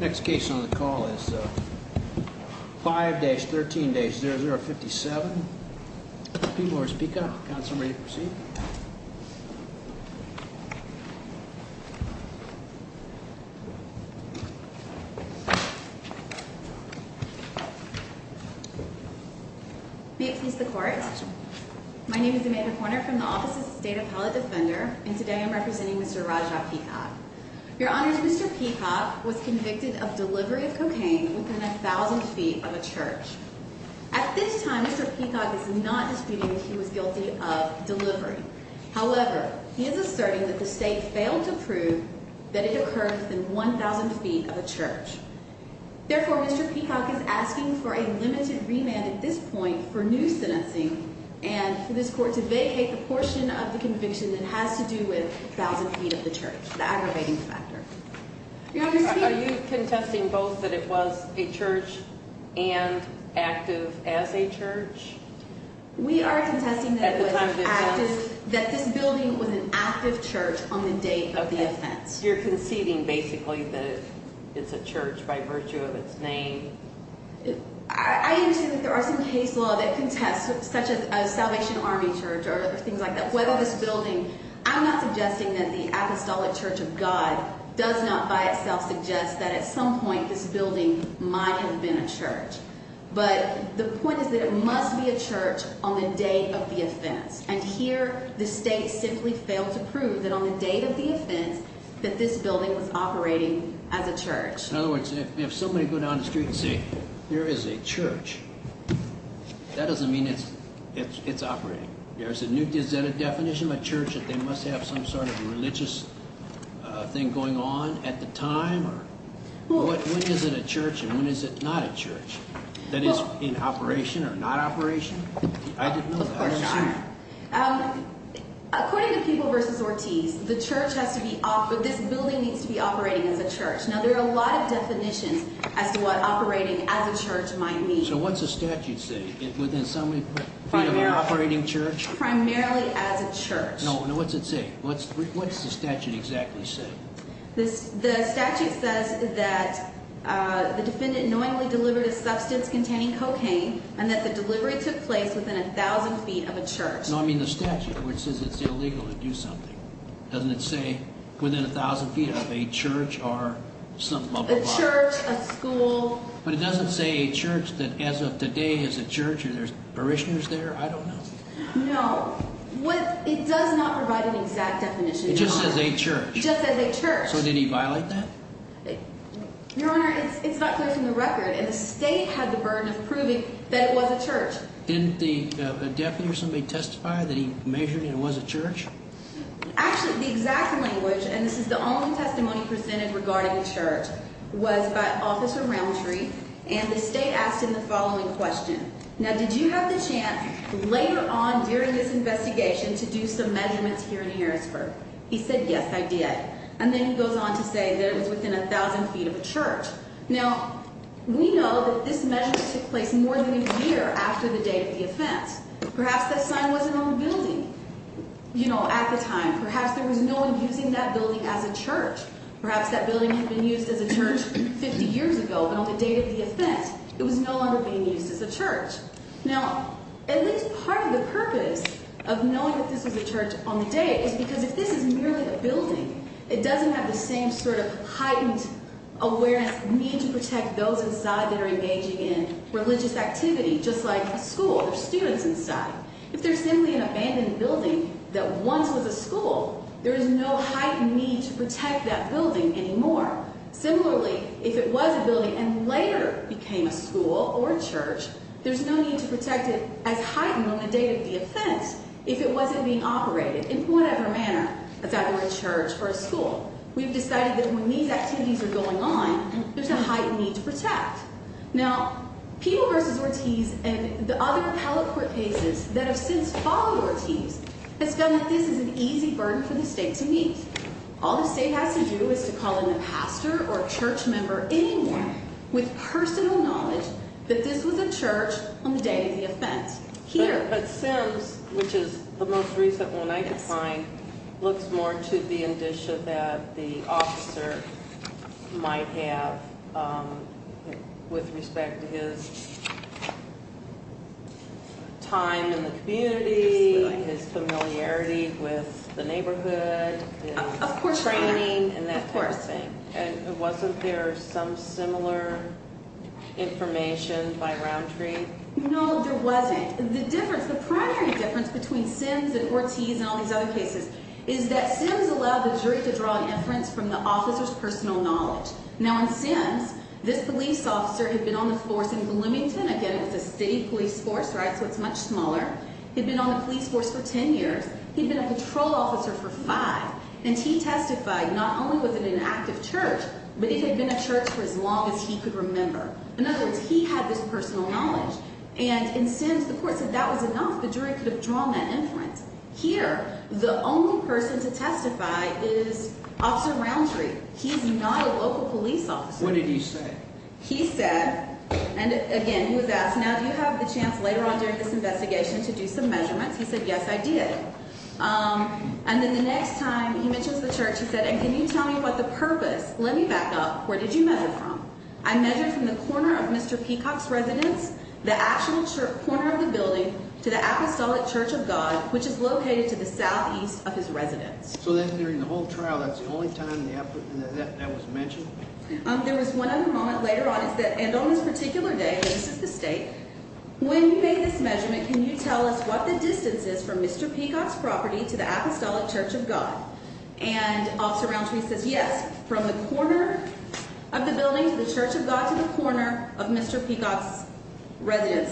Next case on the call is 5-13-0057. P. Morris Peacock. Counselor, are you ready to proceed? May it please the court. My name is Amanda Corner from the Office of the State Appellate Defender, and today I'm representing Mr. Rajat Peacock. Your Honors, Mr. Peacock was convicted of delivery of cocaine within 1,000 feet of a church. At this time, Mr. Peacock is not disputing that he was guilty of delivery. However, he is asserting that the state failed to prove that it occurred within 1,000 feet of a church. Therefore, Mr. Peacock is asking for a limited remand at this point for new sentencing and for this court to vacate the portion of the conviction that has to do with 1,000 feet of the church, the aggravating factor. Are you contesting both that it was a church and active as a church? We are contesting that this building was an active church on the date of the offense. You're conceding basically that it's a church by virtue of its name? I am saying that there are some case law that contests such as Salvation Army Church or things like that. Whether this building – I'm not suggesting that the Apostolic Church of God does not by itself suggest that at some point this building might have been a church. But the point is that it must be a church on the date of the offense. And here the state simply failed to prove that on the date of the offense that this building was operating as a church. In other words, if somebody would go down the street and say, there is a church, that doesn't mean it's operating. Is that a definition of a church that they must have some sort of religious thing going on at the time? When is it a church and when is it not a church? That is, in operation or not operation? I didn't know that. According to Peeble v. Ortiz, the church has to be – this building needs to be operating as a church. Now, there are a lot of definitions as to what operating as a church might mean. So what's the statute say? Within some feet of an operating church? Primarily as a church. Now, what's it say? What's the statute exactly say? The statute says that the defendant knowingly delivered a substance containing cocaine and that the delivery took place within 1,000 feet of a church. No, I mean the statute, which says it's illegal to do something. Doesn't it say within 1,000 feet of a church or some bubble bar? A church, a school. But it doesn't say a church that as of today is a church and there's parishioners there? I don't know. No. What – it does not provide an exact definition. It just says a church. It just says a church. So did he violate that? Your Honor, it's not clear from the record, and the State had the burden of proving that it was a church. Didn't the defendant or somebody testify that he measured and it was a church? Actually, the exact language, and this is the only testimony presented regarding a church, was by Officer Roundtree, and the State asked him the following question. Now, did you have the chance later on during this investigation to do some measurements here in Harrisburg? He said, yes, I did. And then he goes on to say that it was within 1,000 feet of a church. Now, we know that this measurement took place more than a year after the date of the offense. Perhaps that sign wasn't on the building, you know, at the time. Perhaps there was no one using that building as a church. Perhaps that building had been used as a church 50 years ago, but on the date of the offense it was no longer being used as a church. Now, at least part of the purpose of knowing that this was a church on the day is because if this is merely a building, it doesn't have the same sort of heightened awareness, need to protect those inside that are engaging in religious activity, just like a school, there's students inside. If there's simply an abandoned building that once was a school, there is no heightened need to protect that building anymore. Similarly, if it was a building and later became a school or a church, there's no need to protect it as heightened on the date of the offense if it wasn't being operated in whatever manner, if that were a church or a school. We've decided that when these activities are going on, there's a heightened need to protect. Now, people versus Ortiz and the other appellate court cases that have since followed Ortiz have found that this is an easy burden for the state to meet. All the state has to do is to call in a pastor or a church member, anyone with personal knowledge that this was a church on the day of the offense. But Sims, which is the most recent one I could find, looks more to the indicia that the officer might have with respect to his time in the community, his familiarity with the neighborhood, his training, and that type of thing. Of course. And wasn't there some similar information by Roundtree? No, there wasn't. The difference, the primary difference between Sims and Ortiz and all these other cases is that Sims allowed the jury to draw an inference from the officer's personal knowledge. Now, in Sims, this police officer had been on the force in Bloomington. Again, it was a state police force, right, so it's much smaller. He'd been on the police force for 10 years. He'd been a patrol officer for five. And he testified not only was it an active church, but it had been a church for as long as he could remember. In other words, he had this personal knowledge. And in Sims, the court said that was enough. The jury could have drawn that inference. Here, the only person to testify is Officer Roundtree. He's not a local police officer. What did he say? He said, and, again, he was asked, now, do you have the chance later on during this investigation to do some measurements? He said, yes, I did. And then the next time he mentions the church, he said, and can you tell me about the purpose? Let me back up. Where did you measure from? I measured from the corner of Mr. Peacock's residence, the actual corner of the building, to the Apostolic Church of God, which is located to the southeast of his residence. So then during the whole trial, that's the only time that was mentioned? There was one other moment later on. And on this particular day, this is the state, when you made this measurement, can you tell us what the distance is from Mr. Peacock's property to the Apostolic Church of God? And Officer Roundtree says, yes, from the corner of the building to the Church of God to the corner of Mr. Peacock's residence.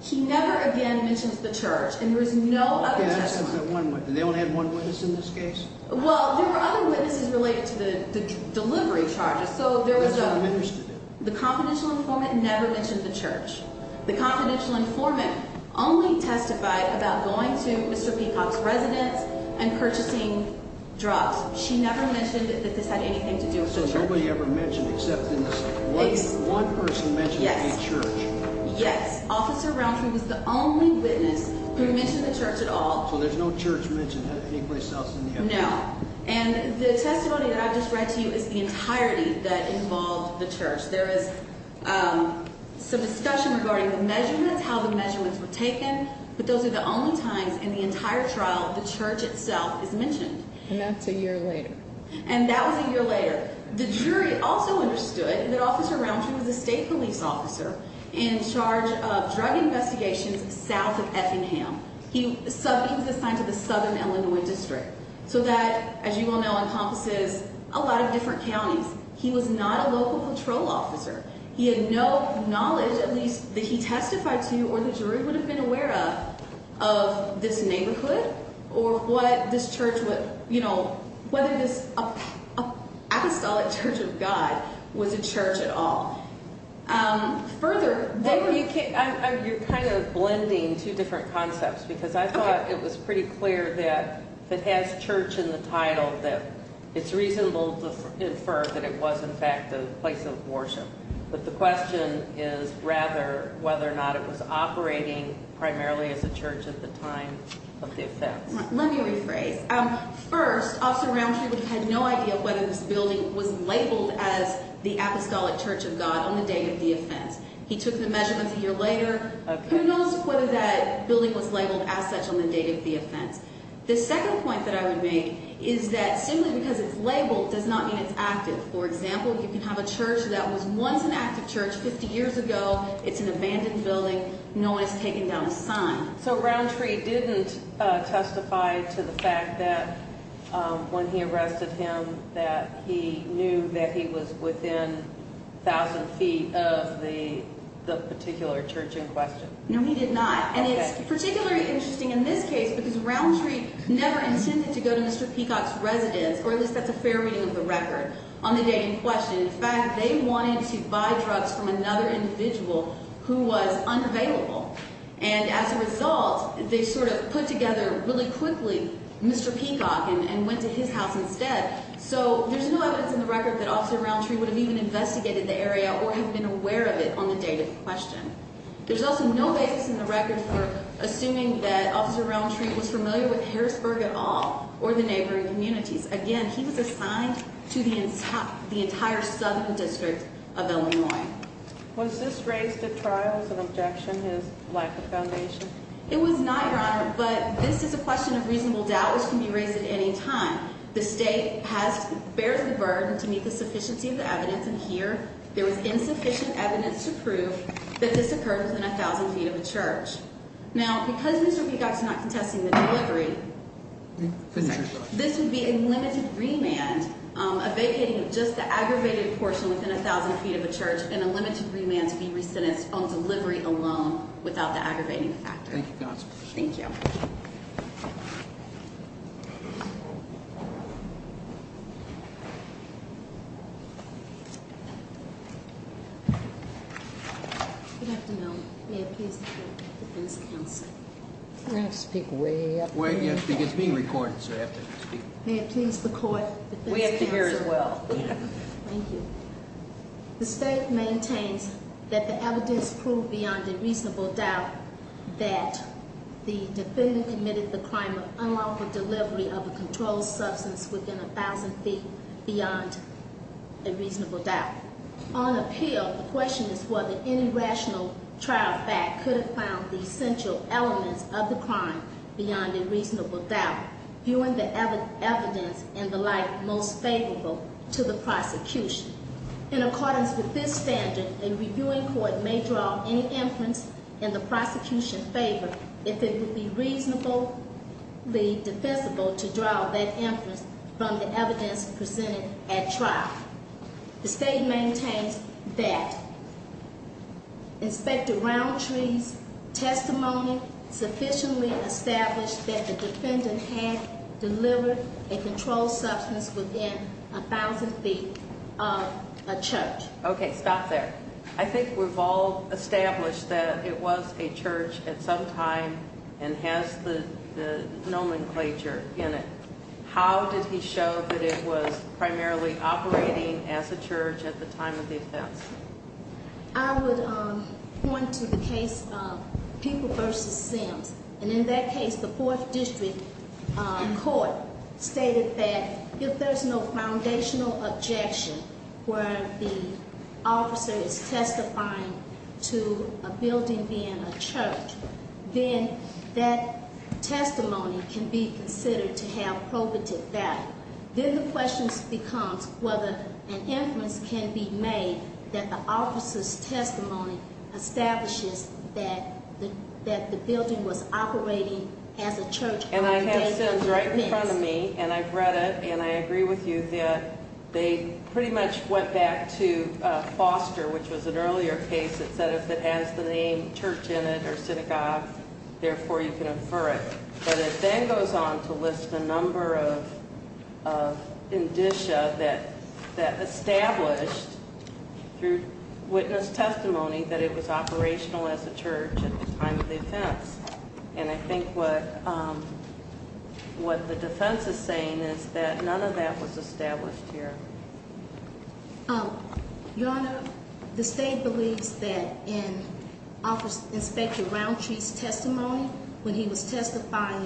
He never again mentions the church, and there is no other testimony. And that's just that one witness. They only had one witness in this case? Well, there were other witnesses related to the delivery charges. That's what the minister did. The confidential informant never mentioned the church. The confidential informant only testified about going to Mr. Peacock's residence and purchasing drugs. She never mentioned that this had anything to do with the church. So nobody ever mentioned, except in this case, one person mentioned a church? Yes. Yes. Officer Roundtree was the only witness who mentioned the church at all. So there's no church mentioned anyplace else in the evidence? No. And the testimony that I just read to you is the entirety that involved the church. There is some discussion regarding the measurements, how the measurements were taken, but those are the only times in the entire trial the church itself is mentioned. And that's a year later? And that was a year later. The jury also understood that Officer Roundtree was a state police officer in charge of drug investigations south of Effingham. He was assigned to the southern Illinois district. So that, as you all know, encompasses a lot of different counties. He was not a local patrol officer. He had no knowledge, at least, that he testified to, or the jury would have been aware of, of this neighborhood or what this church would, you know, whether this apostolic church of God was a church at all. Further, there were... You're kind of blending two different concepts because I thought it was pretty clear that it has church in the title, that it's reasonable to infer that it was, in fact, a place of worship. But the question is rather whether or not it was operating primarily as a church at the time of the offense. Let me rephrase. First, Officer Roundtree had no idea whether this building was labeled as the apostolic church of God on the date of the offense. He took the measurements a year later. Who knows whether that building was labeled as such on the date of the offense? The second point that I would make is that simply because it's labeled does not mean it's active. For example, you can have a church that was once an active church 50 years ago. It's an abandoned building. No one has taken down a sign. So Roundtree didn't testify to the fact that when he arrested him that he knew that he was within 1,000 feet of the particular church in question? No, he did not. And it's particularly interesting in this case because Roundtree never intended to go to Mr. Peacock's residence, or at least that's a fair reading of the record, on the day in question. In fact, they wanted to buy drugs from another individual who was unavailable. And as a result, they sort of put together really quickly Mr. Peacock and went to his house instead. So there's no evidence in the record that Officer Roundtree would have even investigated the area or have been aware of it on the date of the question. There's also no evidence in the record for assuming that Officer Roundtree was familiar with Harrisburg at all or the neighboring communities. Again, he was assigned to the entire southern district of Illinois. Was this raised at trial as an objection to his lack of foundation? It was not, Your Honor, but this is a question of reasonable doubt, which can be raised at any time. The state bears the burden to meet the sufficiency of the evidence. And here there was insufficient evidence to prove that this occurred within 1,000 feet of a church. Now, because Mr. Peacock's not contesting the delivery, this would be a limited remand, a vacating of just the aggravated portion within 1,000 feet of a church, and a limited remand to be re-sentenced on delivery alone without the aggravating factor. Thank you, Counselor. Thank you. Thank you. Good afternoon. May it please the court. Defense Counsel. I'm going to have to speak way up here. It's being recorded, so you'll have to speak. May it please the court. We have to hear as well. Thank you. The state maintains that the evidence proved beyond a reasonable doubt that the defendant committed the crime of unlawful delivery of a controlled substance within 1,000 feet beyond a reasonable doubt. On appeal, the question is whether any rational trial fact could have found the essential elements of the crime beyond a reasonable doubt, viewing the evidence and the like most favorable to the prosecution. In accordance with this standard, a reviewing court may draw any inference in the prosecution's favor if it would be reasonably defensible to draw that inference from the evidence presented at trial. The state maintains that Inspector Roundtree's testimony sufficiently established that the defendant had delivered a controlled substance within 1,000 feet of a church. Okay. Stop there. I think we've all established that it was a church at some time and has the nomenclature in it. How did he show that it was primarily operating as a church at the time of the offense? I would point to the case of People v. Sims. And in that case, the Fourth District Court stated that if there's no foundational objection where the officer is testifying to a building being a church, then that testimony can be considered to have probative value. Then the question becomes whether an inference can be made that the officer's testimony establishes that the building was operating as a church. And I have Sims right in front of me, and I've read it, and I agree with you that they pretty much went back to Foster, which was an earlier case that said if it has the name church in it or synagogue, therefore you can infer it. But it then goes on to list a number of indicia that established through witness testimony that it was operational as a church at the time of the offense. And I think what the defense is saying is that none of that was established here. Your Honor, the state believes that in Inspector Roundtree's testimony, when he was testifying,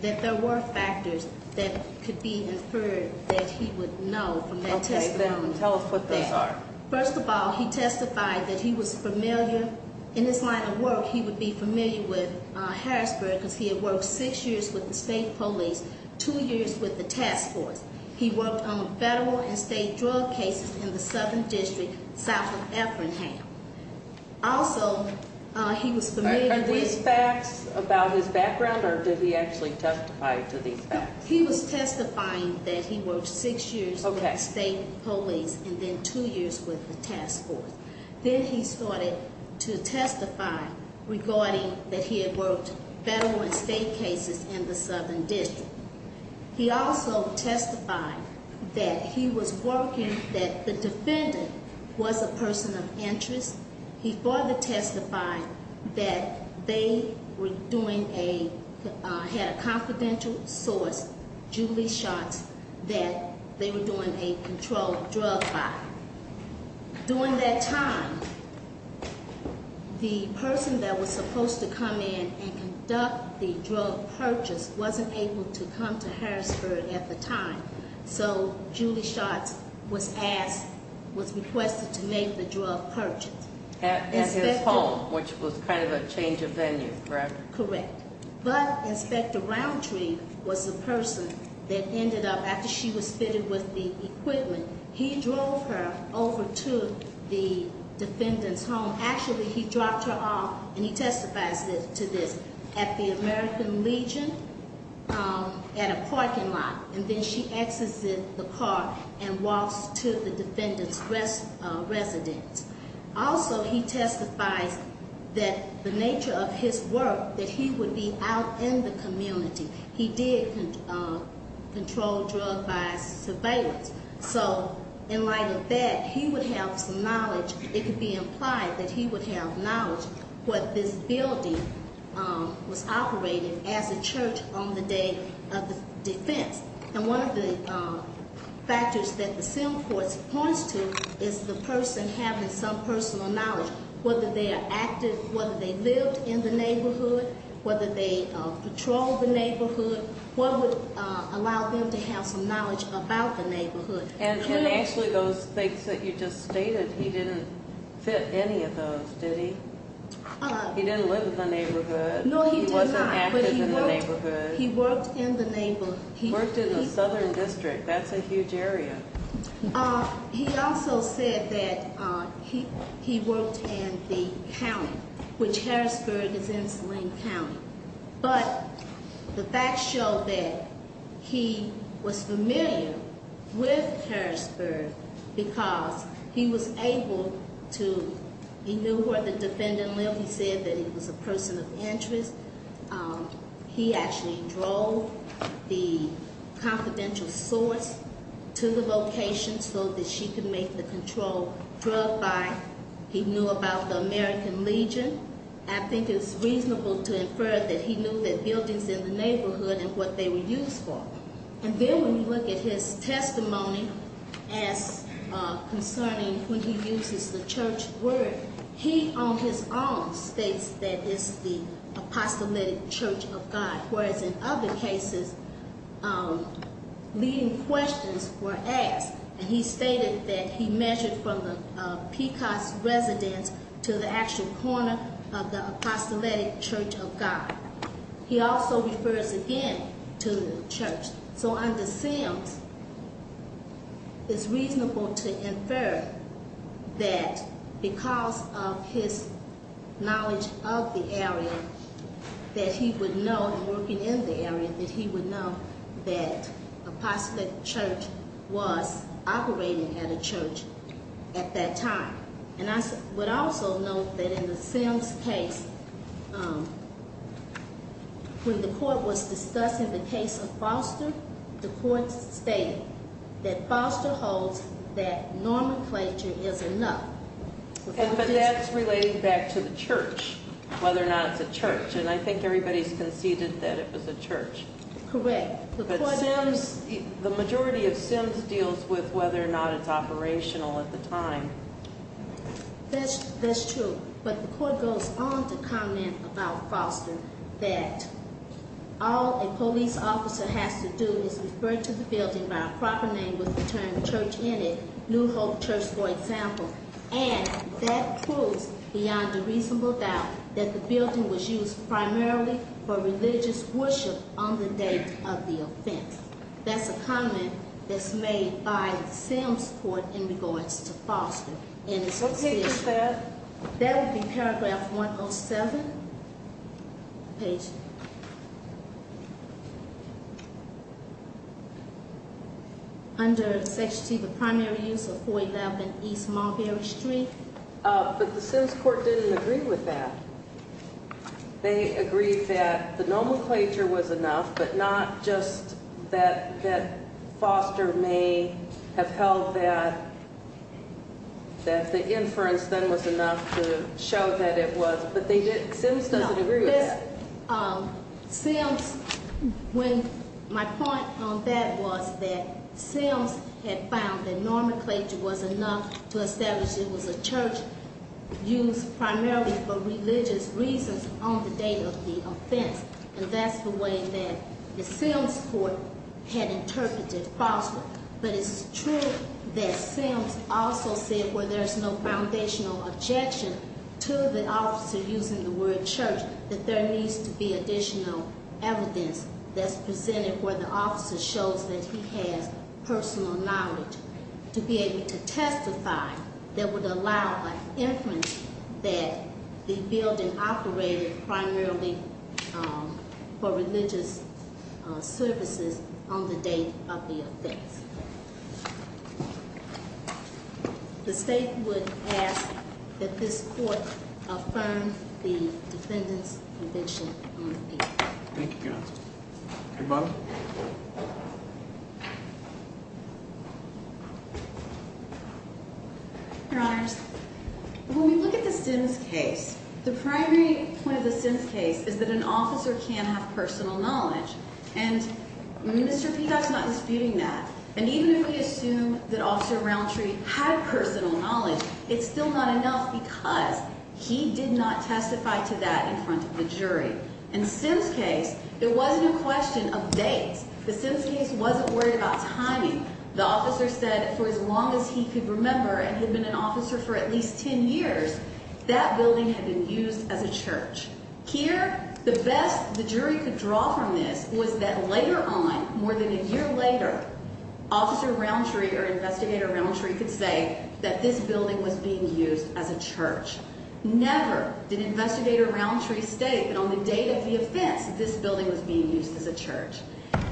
that there were factors that could be inferred that he would know from that testimony. Okay, then tell us what those are. First of all, he testified that he was familiar, in his line of work, he would be familiar with Harrisburg because he had worked six years with the state police, two years with the task force. He worked on federal and state drug cases in the Southern District, south of Effingham. Also, he was familiar with- Are these facts about his background, or did he actually testify to these facts? He was testifying that he worked six years with the state police, and then two years with the task force. Then he started to testify regarding that he had worked federal and state cases in the Southern District. He also testified that he was working, that the defendant was a person of interest. He further testified that they were doing a, had a confidential source, Julie Shots, that they were doing a controlled drug buy. During that time, the person that was supposed to come in and come to Harrisburg at the time, so Julie Shots was asked, was requested to make the drug purchase. At his home, which was kind of a change of venue, correct? Correct, but Inspector Roundtree was the person that ended up, after she was fitted with the equipment, he drove her over to the defendant's home. Actually, he dropped her off, and he testifies to this, at the American Legion, at a parking lot. And then she exits the car and walks to the defendant's residence. Also, he testifies that the nature of his work, that he would be out in the community. He did control drug buy surveillance. So, in light of that, he would have some knowledge. It could be implied that he would have knowledge. But this building was operated as a church on the day of the defense. And one of the factors that the sim court points to is the person having some personal knowledge, whether they are active, whether they lived in the neighborhood, whether they patrolled the neighborhood, what would allow them to have some knowledge about the neighborhood. And actually, those things that you just stated, he didn't fit any of those, did he? He didn't live in the neighborhood. No, he did not. He wasn't active in the neighborhood. He worked in the neighborhood. He worked in the southern district. That's a huge area. He also said that he worked in the county, which Harrisburg is in the same county. But the facts show that he was familiar with Harrisburg because he was able to, he knew where the defendant lived. He said that he was a person of interest. He actually drove the confidential source to the location so that she could make the control drug buy. He knew about the American Legion. I think it's reasonable to infer that he knew the buildings in the neighborhood and what they were used for. And then when you look at his testimony as concerning when he uses the church word, he on his own states that it's the apostolic church of God, whereas in other cases, leading questions were asked. And he stated that he measured from the Pecos residence to the actual corner of the apostolic church of God. He also refers again to the church. So under Sims, it's reasonable to infer that because of his knowledge of the area, that he would know, working in the area, that he would know that apostolic church was operating at a church at that time. And I would also note that in the Sims case, when the court was discussing the case of Foster, the court stated that Foster holds that nomenclature is enough. But that's relating back to the church, whether or not it's a church. And I think everybody's conceded that it was a church. Correct. But Sims, the majority of Sims deals with whether or not it's operational at the time. That's true. But the court goes on to comment about Foster that all a police officer has to do is refer to the building by a proper name with the term church in it, New Hope Church, for example. And that proves beyond a reasonable doubt that the building was used primarily for religious worship on the day of the offense. That's a comment that's made by Sims court in regards to Foster. What page is that? That would be paragraph 107. Page. Under Section C, the primary use of 411 East Montgomery Street. But the Sims court didn't agree with that. They agreed that the nomenclature was enough, but not just that Foster may have held that the inference then was enough to show that it was. But they didn't. Sims doesn't agree with that. Sims, when my point on that was that Sims had found that nomenclature was enough to establish it was a church used primarily for religious reasons on the day of the offense. And that's the way that the Sims court had interpreted Foster. But it's true that Sims also said where there's no foundational objection to the officer using the word church, that there needs to be additional evidence that's presented where the officer shows that he has personal knowledge to be able to testify that would allow an inference that the building operated primarily for religious services on the day of the offense. The state would ask that this court affirm the defendant's conviction on the case. Thank you, counsel. Your mother? Your honors. When we look at the Sims case, the primary point of the Sims case is that an officer can have personal knowledge. And Mr. Peacock's not disputing that. And even if we assume that Officer Roundtree had personal knowledge, it's still not enough because he did not testify to that in front of the jury. In the Sims case, it wasn't a question of dates. The Sims case wasn't worried about timing. The officer said for as long as he could remember and had been an officer for at least 10 years, that building had been used as a church. Here, the best the jury could draw from this was that later on, more than a year later, Officer Roundtree or Investigator Roundtree could say that this building was being used as a church. Never did Investigator Roundtree state that on the date of the offense, this building was being used as a church.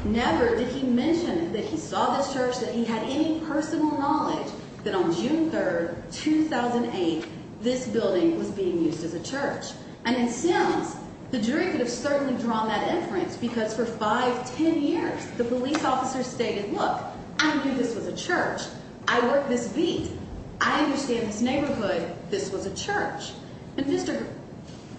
Never did he mention that he saw this church, that he had any personal knowledge that on June 3rd, 2008, this building was being used as a church. And in Sims, the jury could have certainly drawn that inference because for 5, 10 years, the police officer stated, look, I knew this was a church. I worked this beat. I understand this neighborhood. This was a church. And Mr.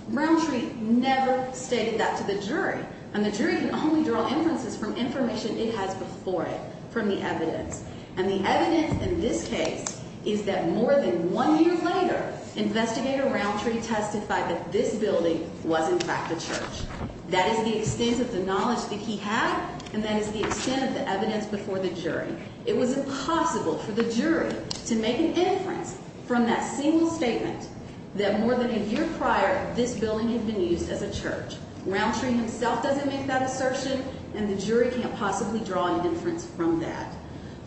Roundtree never stated that to the jury. And the jury can only draw inferences from information it has before it, from the evidence. And the evidence in this case is that more than one year later, Investigator Roundtree testified that this building was in fact a church. That is the extent of the knowledge that he had, and that is the extent of the evidence before the jury. It was impossible for the jury to make an inference from that single statement that more than a year prior, this building had been used as a church. Roundtree himself doesn't make that assertion, and the jury can't possibly draw an inference from that.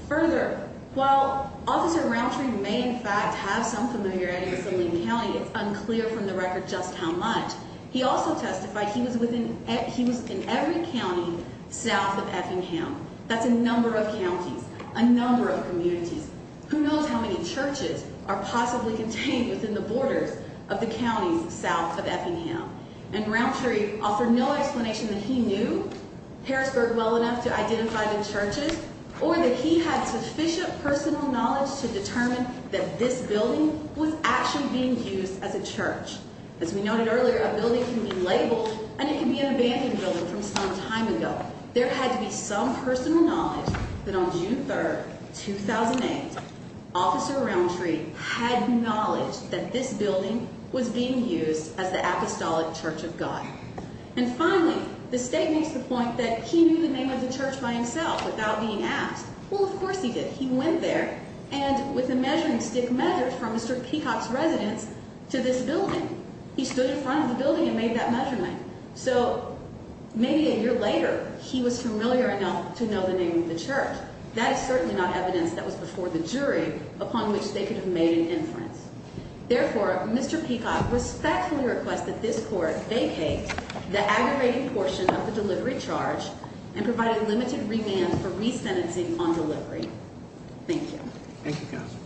Further, while Officer Roundtree may in fact have some familiarity with Saline County, it's unclear from the record just how much, he also testified he was in every county south of Effingham. That's a number of counties, a number of communities. Who knows how many churches are possibly contained within the borders of the counties south of Effingham. And Roundtree offered no explanation that he knew Harrisburg well enough to identify the churches, or that he had sufficient personal knowledge to determine that this building was actually being used as a church. As we noted earlier, a building can be labeled, and it can be an abandoned building from some time ago. There had to be some personal knowledge that on June 3rd, 2008, Officer Roundtree had knowledge that this building was being used as the Apostolic Church of God. And finally, the state makes the point that he knew the name of the church by himself without being asked. Well, of course he did. He went there, and with a measuring stick, measured from Mr. Peacock's residence to this building. He stood in front of the building and made that measurement. So maybe a year later, he was familiar enough to know the name of the church. That is certainly not evidence that was before the jury upon which they could have made an inference. Therefore, Mr. Peacock respectfully requests that this court vacate the aggravating portion of the delivery charge and provide a limited remand for resentencing on delivery. Thank you, Counsel.